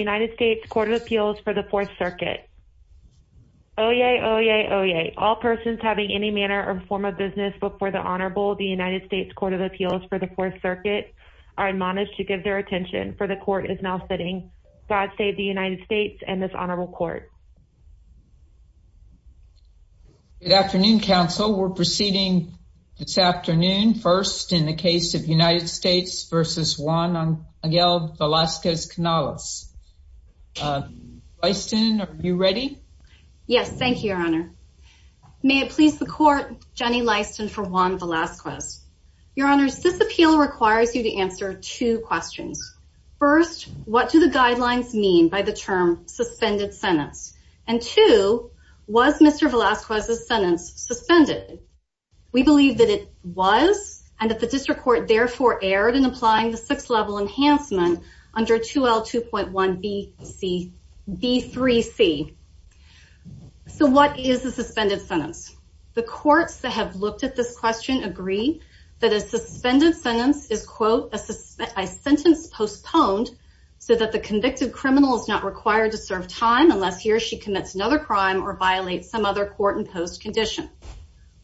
United States Court of Appeals for the Fourth Circuit. Oyez, oyez, oyez. All persons having any manner or form of business before the Honorable, the United States Court of Appeals for the Fourth Circuit, are admonished to give their attention, for the Court is now sitting. God save the United States and this Honorable Court. Good afternoon, Council. We're proceeding this afternoon first in the case of United States. Lyston, are you ready? Yes, thank you, Your Honor. May it please the Court, Jenny Lyston for Juan Velasquez. Your Honors, this appeal requires you to answer two questions. First, what do the guidelines mean by the term suspended sentence? And two, was Mr. Velasquez's sentence suspended? We believe that it was, and that the District Court therefore erred in applying the Sixth Level Enhancement under 2L2.1B3C. So what is a suspended sentence? The courts that have looked at this question agree that a suspended sentence is, quote, a sentence postponed so that the convicted criminal is not required to serve time unless he or she commits another crime or violates some other court-imposed condition.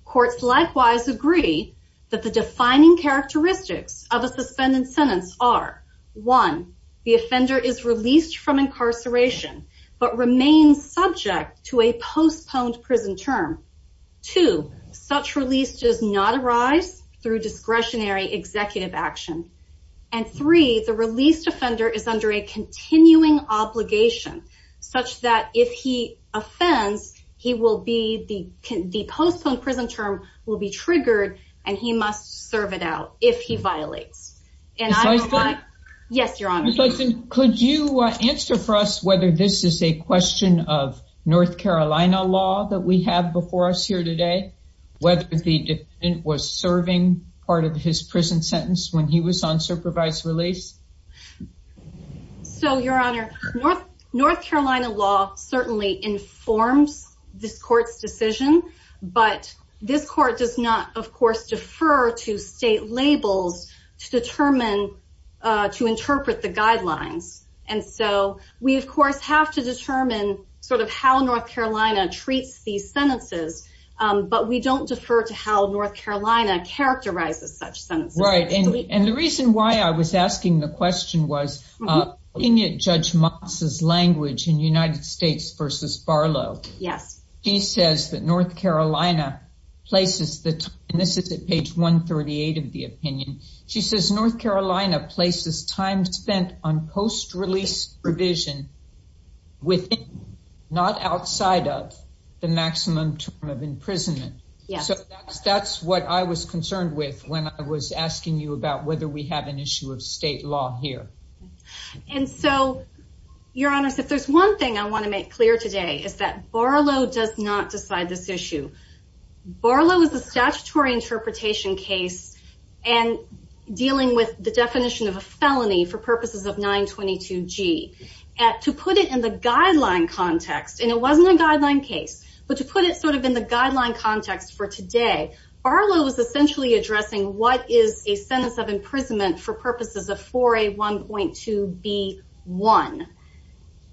Courts likewise agree that the defining characteristics of a suspended sentence are, one, the offender is released from incarceration but remains subject to a postponed prison term. Two, such release does not arise through discretionary executive action. And three, the released offender is under a continuing obligation such that if he offends, he will be the postponed prison term will be triggered and he must serve it out if he violates. And I don't know why... Yes, Your Honor. Could you answer for us whether this is a question of North Carolina law that we have before us here today? Whether the defendant was serving part of his prison sentence when he was on supervised release? So, Your Honor, North Carolina law certainly informs this court's decision, but this court does not, of course, defer to state labels to determine, to interpret the guidelines. And so we, of course, have to determine sort of how North Carolina treats these sentences, but we don't defer to how North Carolina characterizes such sentences. Right. And the reason why I was asking the language in United States v. Barlow. Yes. She says that North Carolina places... And this is at page 138 of the opinion. She says, North Carolina places time spent on post-release revision within, not outside of, the maximum term of imprisonment. So that's what I was concerned with when I was asking you about whether we have an issue of state law here. And so, Your Honor, if there's one thing I want to make clear today is that Barlow does not decide this issue. Barlow is a statutory interpretation case and dealing with the definition of a felony for purposes of 922G. To put it in the guideline context, and it wasn't a guideline case, but to put it sort of in the guideline context for today, Barlow is essentially addressing what is a sentence of imprisonment for purposes of 4A1.2B1.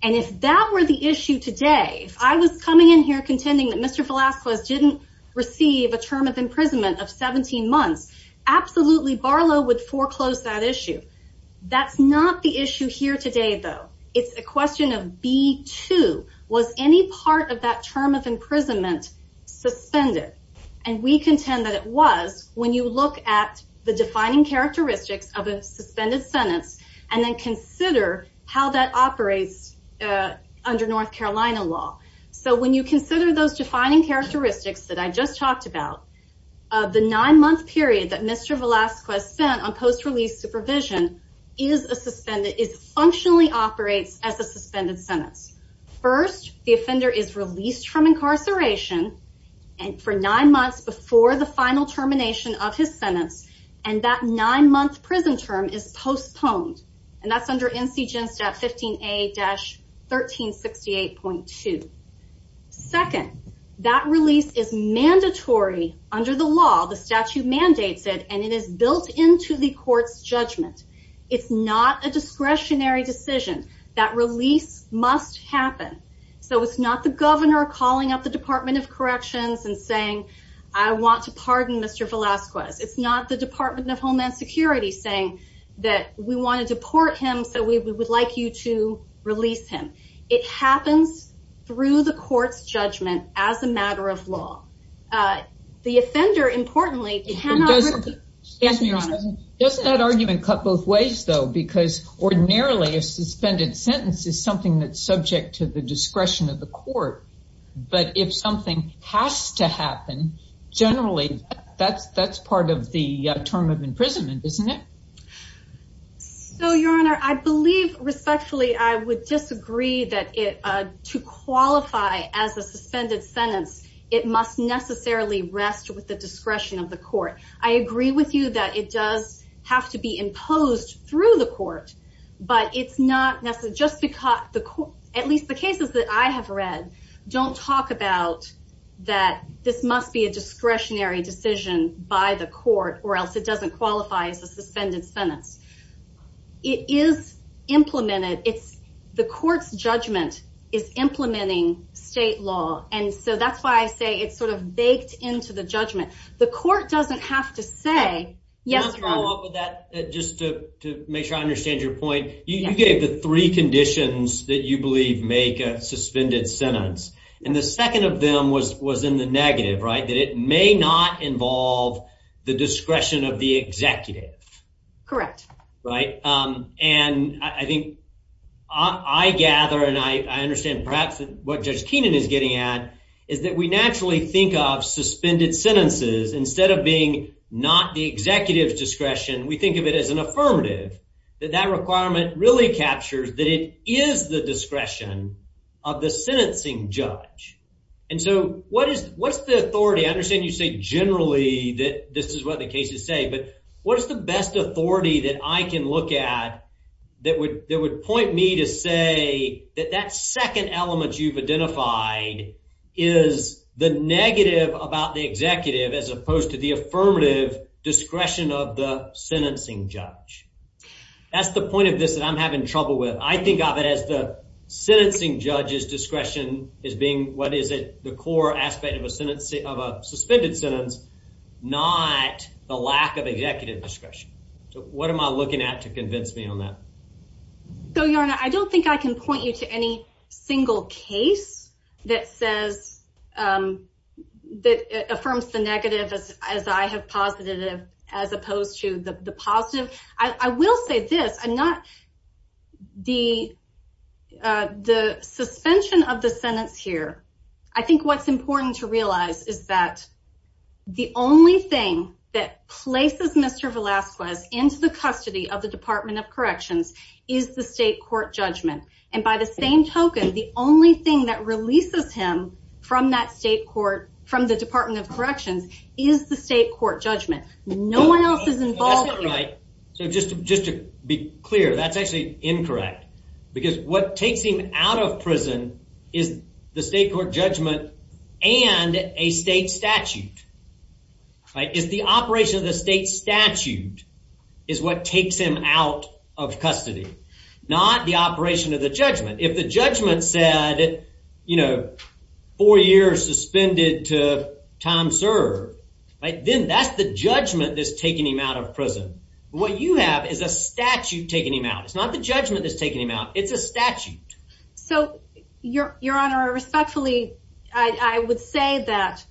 And if that were the issue today, if I was coming in here contending that Mr. Velazquez didn't receive a term of imprisonment of 17 months, absolutely, Barlow would foreclose that issue. That's not the issue here today, though. It's a question of B2. Was any part of that term of imprisonment of 17 months? So when you look at the defining characteristics of a suspended sentence and then consider how that operates under North Carolina law. So when you consider those defining characteristics that I just talked about, the nine-month period that Mr. Velazquez spent on post-release supervision functionally operates as a suspended sentence. First, the offender is released from incarceration, and for nine months before the final termination of his sentence, and that nine-month prison term is postponed. And that's under NCGIN Step 15A-1368.2. Second, that release is mandatory under the law. The statute mandates it, and it is built into the court's judgment. It's not a discretionary decision. That release must happen. So it's not the governor calling up the Department of Corrections and saying, I want to pardon Mr. Velazquez. It's not the Department of Homeland Security saying that we want to deport him, so we would like you to release him. It happens through the court's judgment as a matter of law. The offender, importantly, cannot risk it. Excuse me, Your Honor. Doesn't that argument cut both ways, though? Because ordinarily a suspended sentence is something that's subject to the discretion of the court. But if something has to happen, generally, that's part of the term of imprisonment, isn't it? So, Your Honor, I believe respectfully I would disagree that to qualify as a suspended sentence, it must necessarily rest with the discretion of the court. I agree with you that it does have to be imposed through the court, but it's not necessary, just because the court, at least the cases that I have read, don't talk about that this must be a discretionary decision by the court or else it doesn't qualify as a suspended sentence. It is implemented. The court's judgment is implementing state law, and so that's why I say it's sort of baked into the judgment. The court doesn't have to say, yes, Your Honor. Can I follow up with that, just to make sure I understand your point? You gave the three conditions that you believe make a suspended sentence, and the second of them was in the negative, right? That it may not involve the discretion of the executive. Correct. Right? And I think I gather, and I understand perhaps what Judge Keenan is getting at, is that we naturally think of suspended sentences, instead of being not the executive's discretion, we think of it as an affirmative, that that requirement really captures that it is the discretion of the sentencing judge. And so, what is the authority? I understand you say generally that this is what the cases say, but what is the best authority that I can look at that would point me to say that that second element you've identified is the negative about the executive, as opposed to the affirmative discretion of the sentencing judge? That's the point of this that I'm having trouble with. I think of it as the sentencing judge's discretion as being, what is it, the core aspect of a suspended sentence, not the lack of executive discretion. So, what am I looking at to convince me on that? So, Yorna, I don't think I can point you to any single case that says, that affirms the negative as I have posited it, as opposed to the positive. I will say this, the suspension of the sentence here, I think what's important to realize is that the only thing that places Mr. Velasquez into the custody of the Department of Corrections is the state court judgment. And by the same token, the only thing that releases him from that state court, from the Department of Corrections, is the state court judgment. No one else is involved here. That's not right. So, just to be clear, that's actually incorrect, because what takes him out of prison is the state court judgment and a state statute. It's the operation of the state statute is what takes him out of custody, not the operation of the judgment. If the judgment said, four years suspended to time served, then that's the judgment that's taking him out of prison. What you have is a statute taking him out. It's not the judgment that's taking him out. It's a statute. So, Your Honor, respectfully, I would say that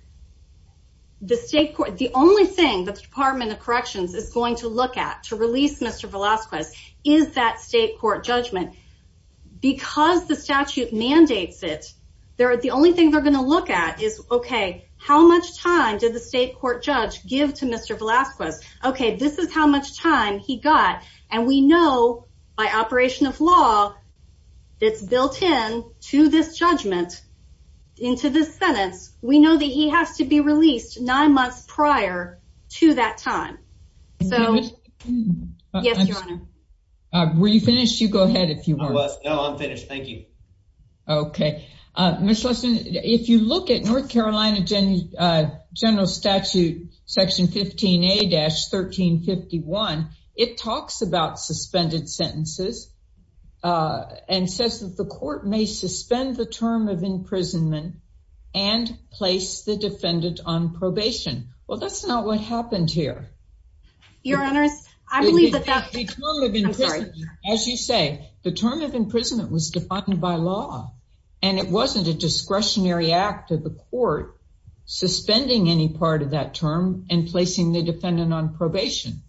the only thing that the Department of Corrections is going to look at to release Mr. Velasquez is that state court judgment. Because the statute mandates it, the only thing they're going to look at is, okay, how much time did the state court judge give to Mr. Velasquez? Okay, this is how long it's built in to this judgment, into this sentence. We know that he has to be released nine months prior to that time. So, yes, Your Honor. Were you finished? You go ahead if you want. No, I'm finished. Thank you. Okay. Ms. Leston, if you look at North Carolina General Statute Section 15A-1351, it talks about suspended sentences and says that the court may suspend the term of imprisonment and place the defendant on probation. Well, that's not what happened here. Your Honor, I believe that that... The term of imprisonment, as you say, the term of imprisonment was defined by law, and it wasn't a discretionary act of the court suspending any term and placing the defendant on probation.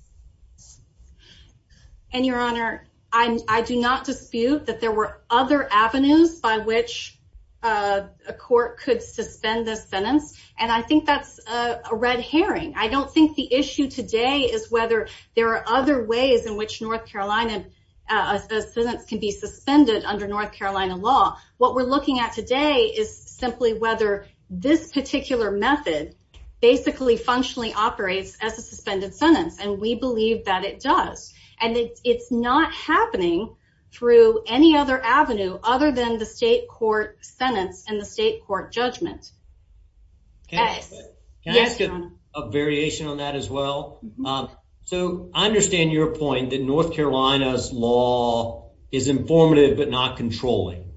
And, Your Honor, I do not dispute that there were other avenues by which a court could suspend the sentence, and I think that's a red herring. I don't think the issue today is whether there are other ways in which a sentence can be suspended under North Carolina law. What we're looking at today is simply whether this particular method, basically, functionally operates as a suspended sentence, and we believe that it does. And it's not happening through any other avenue other than the state court sentence and the state court judgment. Yes. Can I ask a variation on that as well? So, I understand your point that North Carolina's law is informative but not controlling.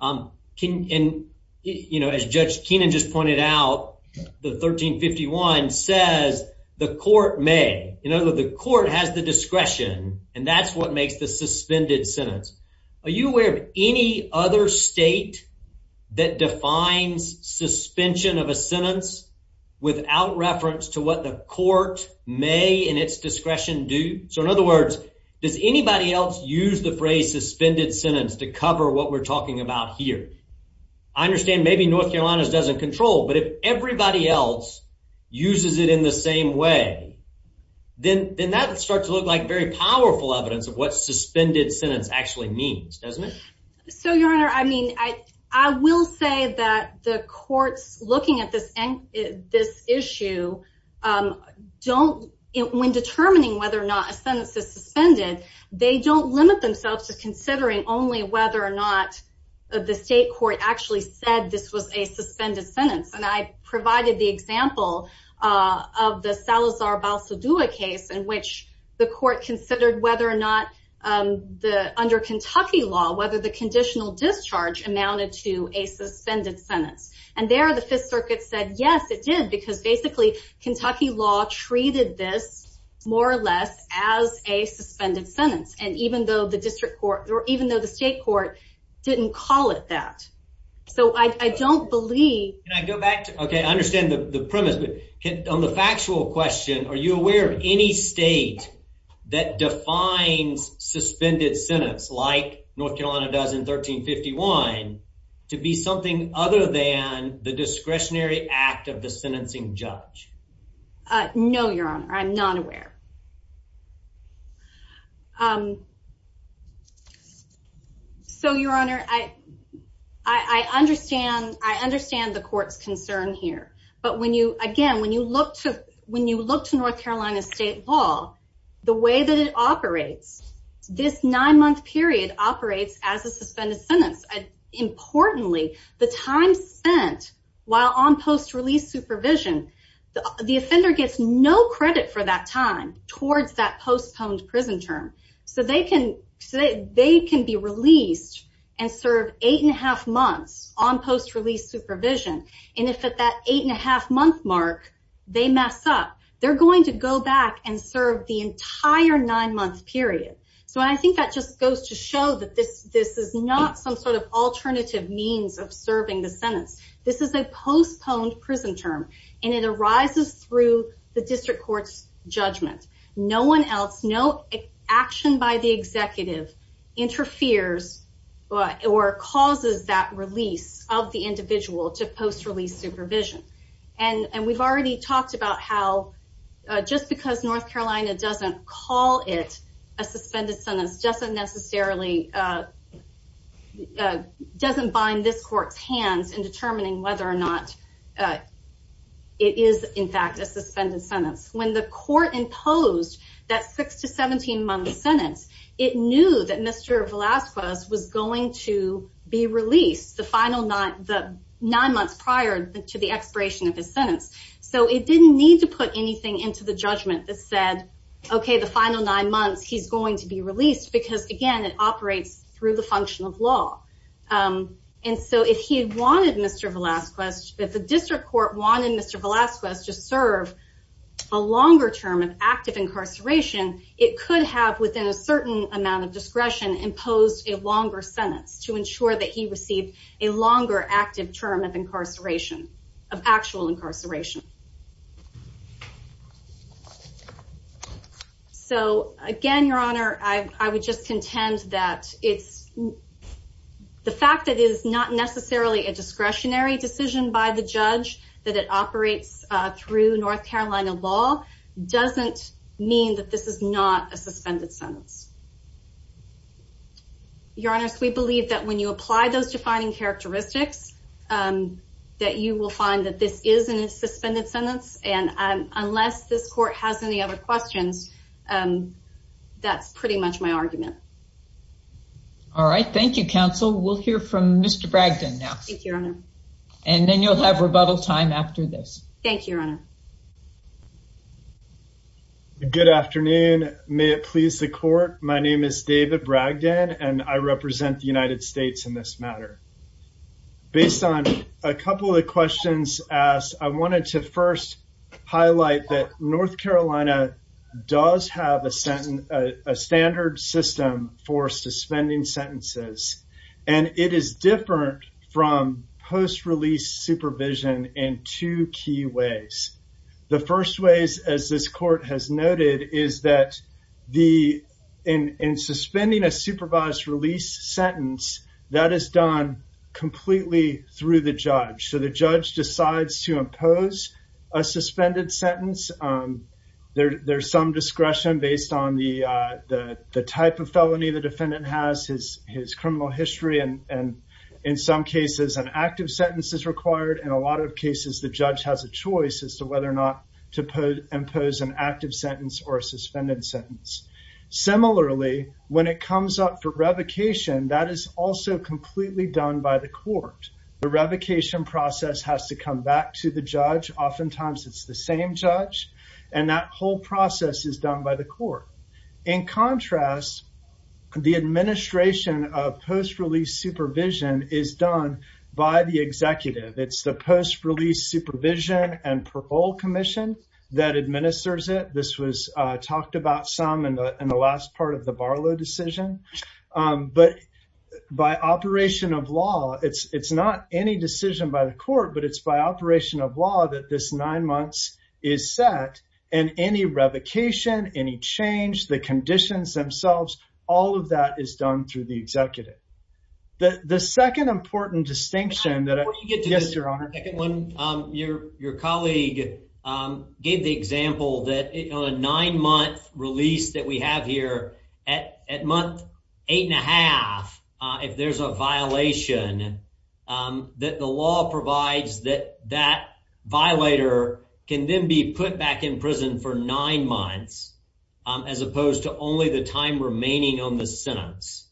And, you know, as Judge Keenan just pointed out, the 1351 says the court may. You know, the court has the discretion, and that's what makes the suspended sentence. Are you aware of any other state that defines suspension of a sentence without reference to what the court may, in its discretion, do? So, in other words, does anybody else use the phrase suspended sentence to cover what we're talking about here? I understand maybe North Carolina's doesn't control, but if everybody else uses it in the same way, then that starts to look like very powerful evidence of what suspended sentence actually means, doesn't it? So, Your Honor, I mean, I will say that the courts looking at this issue don't, when determining whether or not a sentence is suspended, they don't limit themselves to considering only whether or not the state court actually said this was a suspended sentence. And I provided the example of the Salazar-Balsadua case in which the court considered whether or not the, under Kentucky law, whether the conditional discharge amounted to a suspended sentence. And there the Fifth Circuit said, yes, it did, because basically, Kentucky law treated this, more or less, as a suspended sentence. And even though the district court, or even though the state court didn't call it that. So, I don't believe. Can I go back to, okay, I understand the premise, but on the factual question, are you aware of any state that defines suspended sentence like North Carolina does in 1351 to be something other than the discretionary act of the sentencing judge? Uh, no, Your Honor, I'm not aware. Um, so, Your Honor, I, I understand, I understand the court's concern here. But when you, again, when you look to, when you look to North Carolina state law, the way that it operates, this nine month period operates as a suspended sentence. Importantly, the time spent while on post-release supervision, the offender gets no credit for that time towards that postponed prison term. So, they can, so they can be released and serve eight and a half months on post-release supervision. And if at that eight and a half month mark, they mess up, they're going to go back and serve the entire nine month period. So, I think that just goes to show that this, this is not some sort of and it arises through the district court's judgment. No one else, no action by the executive interferes or causes that release of the individual to post-release supervision. And, and we've already talked about how, uh, just because North Carolina doesn't call it a suspended sentence, doesn't necessarily, uh, uh, doesn't bind this court's hands in determining whether or not, uh, it is in fact a suspended sentence. When the court imposed that six to 17 month sentence, it knew that Mr. Velazquez was going to be released the final nine, the nine months prior to the expiration of his sentence. So, it didn't need to put anything into the judgment that said, okay, the final nine months he's going to be released because again, it operates through the function of law. Um, and so if he had wanted Mr. Velazquez, if the district court wanted Mr. Velazquez to serve a longer term of active incarceration, it could have within a certain amount of discretion imposed a longer sentence to ensure that he received a longer active term of incarceration, of actual incarceration. So again, Your Honor, I, I would just contend that it's the fact that it is not necessarily a discretionary decision by the judge, that it operates, uh, through North Carolina law, doesn't mean that this is not a suspended sentence. Your Honor, we believe that when you apply those defining characteristics, um, that you will find that this is a suspended sentence. And, um, unless this court has any other questions, um, that's pretty much my argument. All right. Thank you, counsel. We'll hear from Mr. Bragdon now. And then you'll have rebuttal time after this. Thank you, Your Honor. Good afternoon. May it please the court. My name is David Bragdon, and I represent the United States in this matter. Based on a couple of the questions asked, I wanted to first highlight that North Carolina does have a sentence, a standard system for suspending sentences. And it is different from post-release supervision in two key ways. The first ways, as this court has noted, is that the, in suspending a supervised release sentence, that is done completely through the judge. So, the judge decides to impose a suspended sentence. There's some discretion based on the, uh, the type of felony the defendant has, his criminal history, and in some cases, an active sentence is required. In a lot of cases, the judge has a choice as to whether or not to impose an active sentence or a suspended sentence. Similarly, when it comes up for revocation, that is also completely done by the court. The revocation process has to come back to the judge. Oftentimes, it's the same judge, and that whole process is done by the court. In contrast, the administration of post-release supervision is done by the executive. It's the post-release supervision and parole commission that administers it. This was, uh, talked about some in the, in the last part of the Barlow decision. Um, but by operation of law, it's, it's not any decision by the court, but it's by operation of law that this nine months is set, and any revocation, any change, the conditions themselves, all of that is done through the executive. The, the second important distinction that, yes, your honor. Before you get to the second one, um, your, your colleague, um, gave the example that, you know, a nine-month release that we have here at, at month eight and a half, uh, if there's a violation, um, that the law provides that that violator can then be put back in prison for nine months, um, as opposed to only the time remaining on the sentence.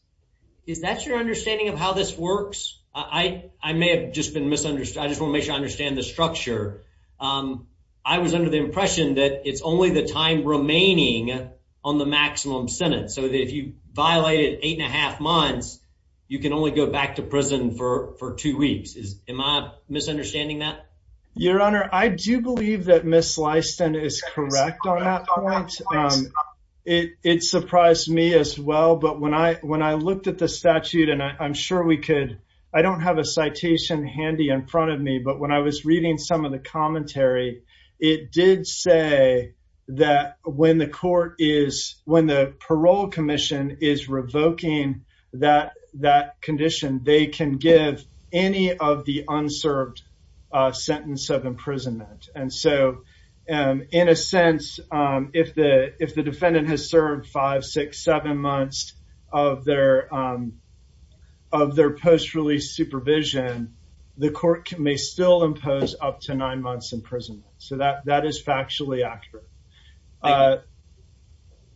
Is that your understanding of how this works? I, I may have just been misunderstood. I just want to make sure I understand the structure. Um, I was under the impression that it's only the time remaining on the maximum sentence, so that if you violated eight and a half months, you can only go back to prison for, for two weeks. Is, am I misunderstanding that? Your honor, I do believe that Ms. Slyston is correct on that point. Um, it, it surprised me as well, but when I, when I looked at the statute, and I, I'm sure we could, I don't have a citation handy in front of me, but when I was reading some of the commentary, it did say that when the court is, when the parole commission is revoking that, that condition, they can give any of the unserved, uh, sentence of imprisonment. And so, um, in a sense, um, if the defendant has served five, six, seven months of their, um, of their post-release supervision, the court may still impose up to nine months in prison. So that, that is factually accurate. Uh,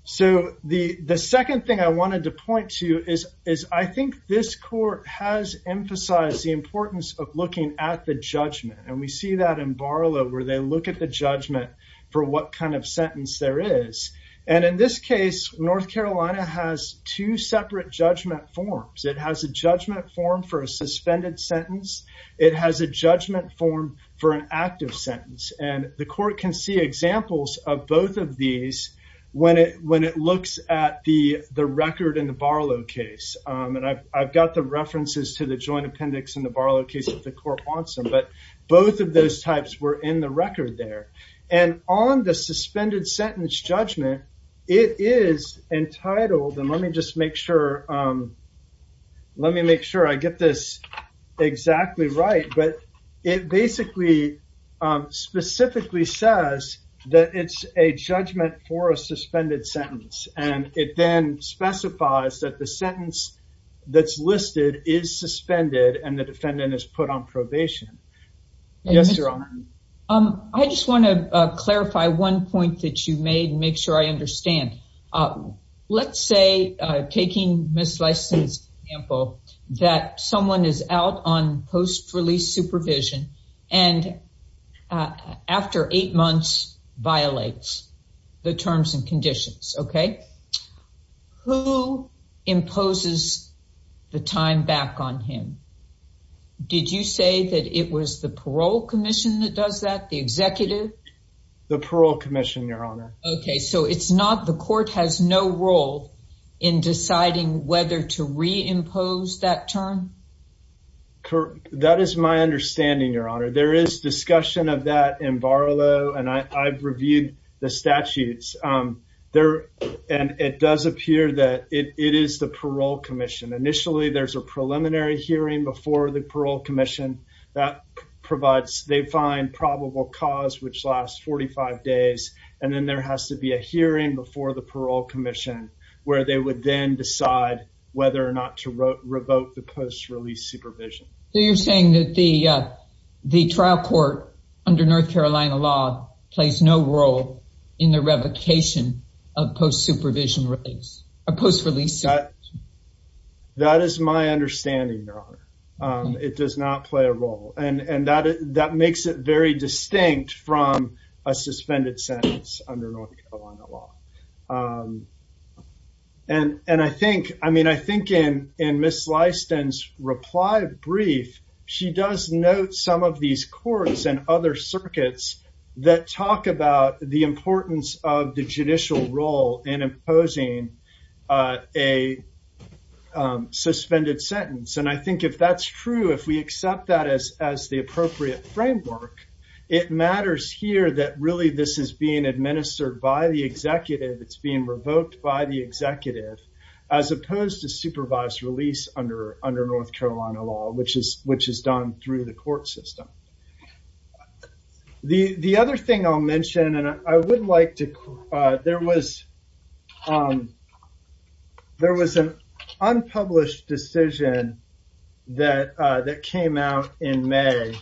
so the, the second thing I wanted to point to is, is I think this court has emphasized the importance of looking at the judgment. And we see that in Barlow, where they look at the And in this case, North Carolina has two separate judgment forms. It has a judgment form for a suspended sentence. It has a judgment form for an active sentence. And the court can see examples of both of these when it, when it looks at the, the record in the Barlow case. Um, and I've, I've got the references to the joint appendix in the Barlow case if the court wants But both of those types were in the record there. And on the suspended sentence judgment, it is entitled, and let me just make sure, um, let me make sure I get this exactly right. But it basically, um, specifically says that it's a judgment for a suspended sentence. And it then Yes, Your Honor. Um, I just want to clarify one point that you made and make sure I understand. Let's say, uh, taking Ms. Lyson's example, that someone is out on post-release supervision and after eight months violates the terms and conditions. Okay. Who imposes the time back on him? Did you say that it was the parole commission that does that? The executive? The parole commission, Your Honor. Okay. So it's not, the court has no role in deciding whether to reimpose that term? That is my understanding, Your Honor. There is discussion of that in Barlow and I've reviewed the statutes. Um, there, and it does appear that it is the parole commission. Initially, there's a preliminary hearing before the parole commission that provides, they find probable cause, which lasts 45 days. And then there has to be a hearing before the parole commission where they would then decide whether or not to revoke the post-release supervision. So you're saying that the, uh, the trial court under North Carolina law plays no role in the understanding, Your Honor. Um, it does not play a role and, and that, that makes it very distinct from a suspended sentence under North Carolina law. Um, and, and I think, I mean, I think in, in Ms. Lyson's reply brief, she does note some of these courts and other circuits that talk about the importance of the judicial role in imposing, uh, a, um, suspended sentence. And I think if that's true, if we accept that as, as the appropriate framework, it matters here that really this is being administered by the executive. It's being revoked by the executive as opposed to supervised release under, under North Carolina law, which is, which is done through the court system. The, the other thing I'll mention, and I would like to, there was, um, there was an unpublished decision that, uh, that came out in May,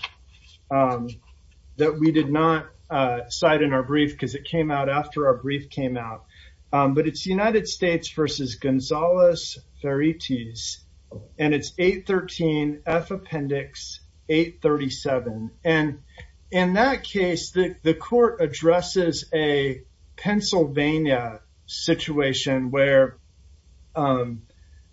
that we did not, uh, cite in our brief because it came out after our brief came out. But it's United States versus Gonzales-Ferritiz and it's 813 F Appendix 837. And in that case, the, the court addresses a Pennsylvania situation where, um,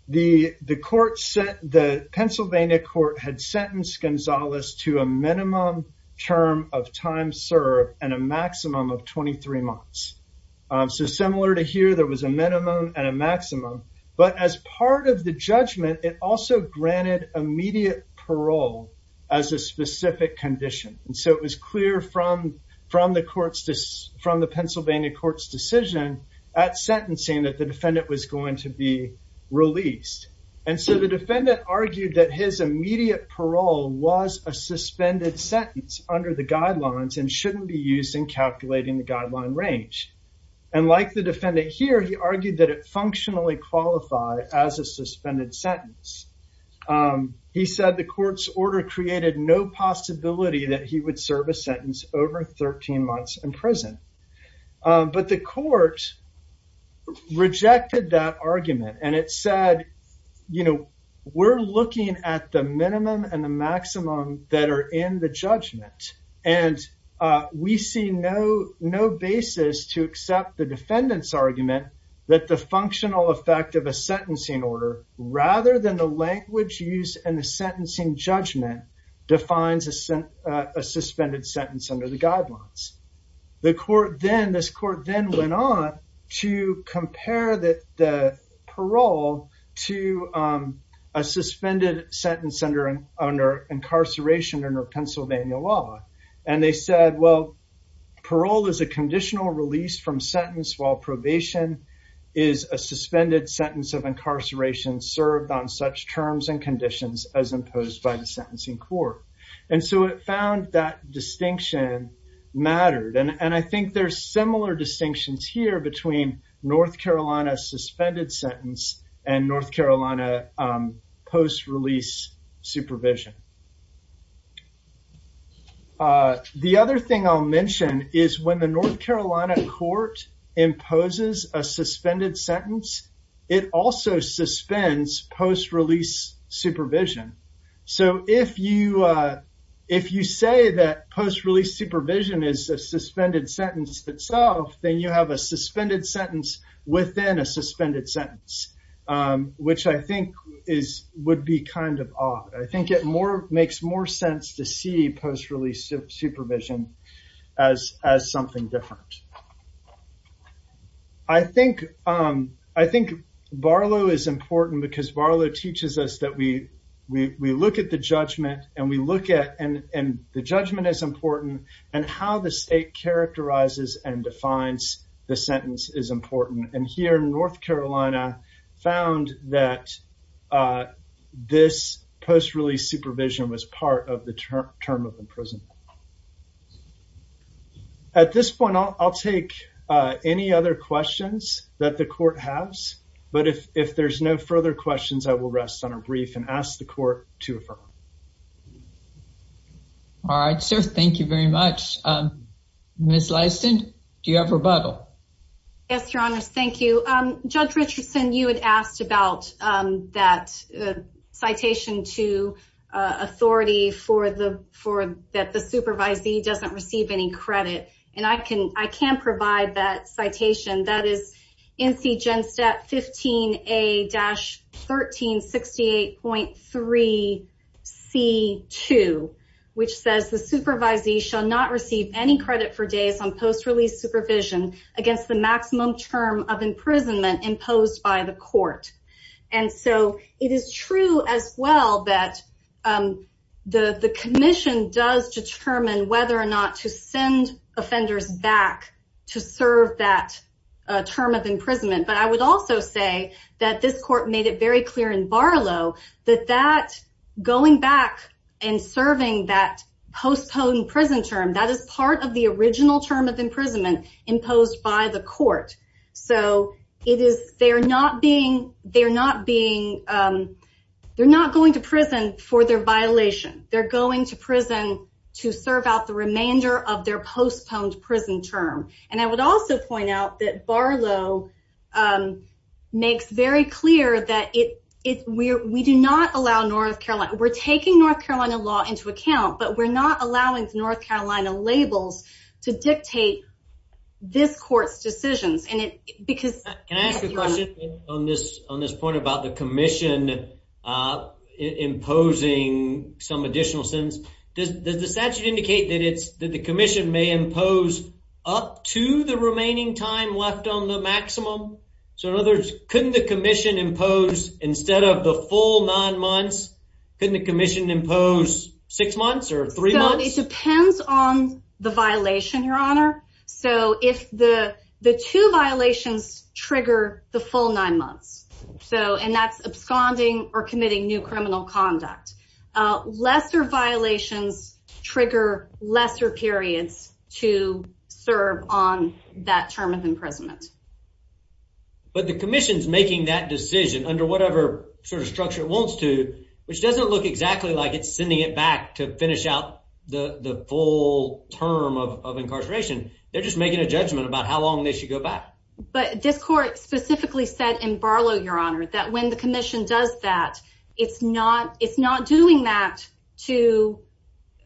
the, the court set, the Pennsylvania court had sentenced Gonzales to a minimum term of time served and a maximum of 23 months. Um, so similar to here, there was a minimum and a maximum, but as part of the judgment, it also granted immediate parole as a specific condition. And so it was clear from, from the court's, from the Pennsylvania court's decision at sentencing that the defendant was going to be released. And so the defendant argued that his immediate parole was a suspended sentence under the guidelines and shouldn't be used in calculating the guideline range. And like the defendant here, he argued that it functionally qualified as a suspended sentence. Um, he said the court's order created no possibility that he would serve a sentence over 13 months in prison. Um, but the court rejected that argument and it said, you know, we're looking at the minimum and maximum that are in the judgment. And, uh, we see no, no basis to accept the defendant's argument that the functional effect of a sentencing order rather than the language used in the sentencing judgment defines a, uh, a suspended sentence under the guidelines. The court then, this court then went on to compare that the parole to, um, a suspended sentence under, under incarceration under Pennsylvania law. And they said, well, parole is a conditional release from sentence while probation is a suspended sentence of incarceration served on such terms and conditions as imposed by the sentencing court. And so it found that distinction mattered. And I think there's similar distinctions here between North Carolina suspended sentence and North Carolina, um, post-release supervision. Uh, the other thing I'll mention is when the North Carolina court imposes a suspended sentence, it also suspends post-release supervision. So if you, uh, if you say that post-release supervision is a suspended sentence itself, then you have a suspended sentence within a suspended sentence, um, which I think is, would be kind of odd. I think it more, makes more sense to see post-release supervision as, as something different. I think, um, I think Barlow is important because Barlow teaches us that we, we, we look at the judgment as important and how the state characterizes and defines the sentence is important. And here in North Carolina found that, uh, this post-release supervision was part of the term, term of imprisonment. At this point, I'll, I'll take, uh, any other questions that the court has, but if, if there's no further questions, I will rest on a brief and ask the court to affirm. All right, sir. Thank you very much. Um, Ms. Leiston, do you have a rebuttal? Yes, your honors. Thank you. Um, Judge Richardson, you had asked about, um, that, uh, citation to, uh, authority for the, for that the supervisee doesn't receive any credit. And I can, I can provide that citation that is NC GENSTAT 15A-1368.3C2, which says the supervisee shall not receive any credit for days on post-release supervision against the maximum term of imprisonment imposed by the court. And so it is true as well that, um, the, the commission does determine whether or not to send offenders back to serve that, uh, term of imprisonment. But I would also say that this court made it very clear in Barlow that that going back and serving that postponed prison term, that is part of the original term of imprisonment imposed by the court. So it is, they're not being, they're not being, um, they're not going to prison for their violation. They're going to prison to serve out the remainder of their postponed prison term. And I would also point out that Barlow, um, makes very clear that it, it, we're, we do not allow North Carolina, we're taking North Carolina law into account, but we're not allowing North Carolina labels to dictate this court's decisions. And it, because... Can I ask a question on this, on this point about the commission, uh, imposing some additional sentence? Does, does the statute indicate that it's, that the commission may impose up to the remaining time left on the maximum? So in other words, couldn't the commission impose instead of the full nine months, couldn't the commission impose six months or three months? It depends on the violation, your honor. So if the, the two violations trigger the full nine months, so, and that's absconding or committing new criminal conduct, uh, lesser violations trigger lesser periods to serve on that term of imprisonment. But the commission's making that decision under whatever sort of structure it wants to, which doesn't look exactly like it's sending it back to finish out the, the full term of incarceration. They're just making a judgment about how long they should go back. But this court specifically said in Barlow, your honor, that when the commission does that, it's not, it's not doing that to,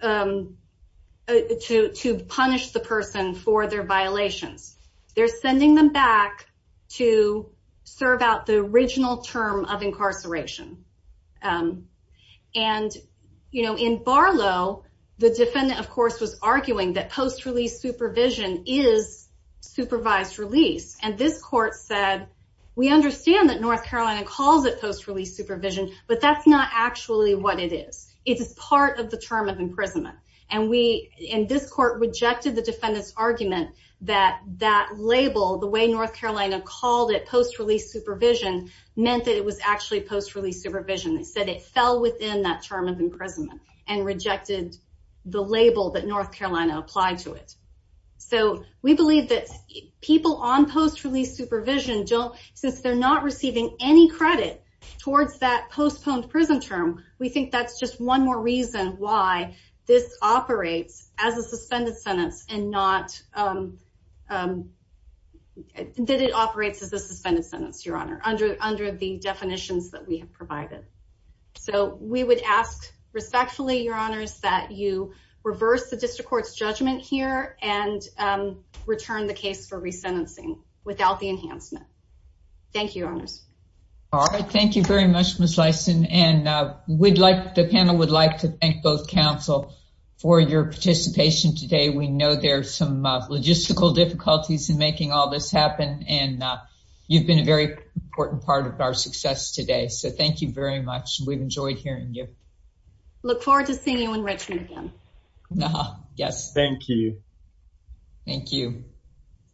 um, to, to punish the person for their violations. They're sending them back to serve out the original term of incarceration. Um, and, you know, in Barlow, the defendant of course, was arguing that post release supervision is supervised release. And this court said, we understand that North Carolina calls it post release supervision, but that's not actually what it is. It's part of the term of imprisonment. And we, and this court rejected the defendant's argument that that label, the way North Carolina called it post release supervision meant that it was actually post release supervision. They said it fell within that term of imprisonment and rejected the label that North Carolina applied to it. So we believe that people on post release supervision don't, since they're not receiving any credit towards that postponed prison term. We think that's just one more reason why this operates as a suspended sentence and not, um, um, that it operates as a suspended sentence, Your Honor, under, under the definitions that we have provided. So we would ask respectfully, Your Honors, that you reverse the district court's judgment here and, um, return the case for resentencing without the enhancement. Thank you, Your Honors. All right. Thank you very much, Ms. Lyson. And, uh, we'd like, the panel would like to thank both counsel for your participation today. We know there's some logistical difficulties in making all this happen, and, uh, you've been a very important part of our success today. So thank you very much. We've enjoyed hearing you. Look forward to seeing you in Richmond again. Yes. Thank you. Thank you.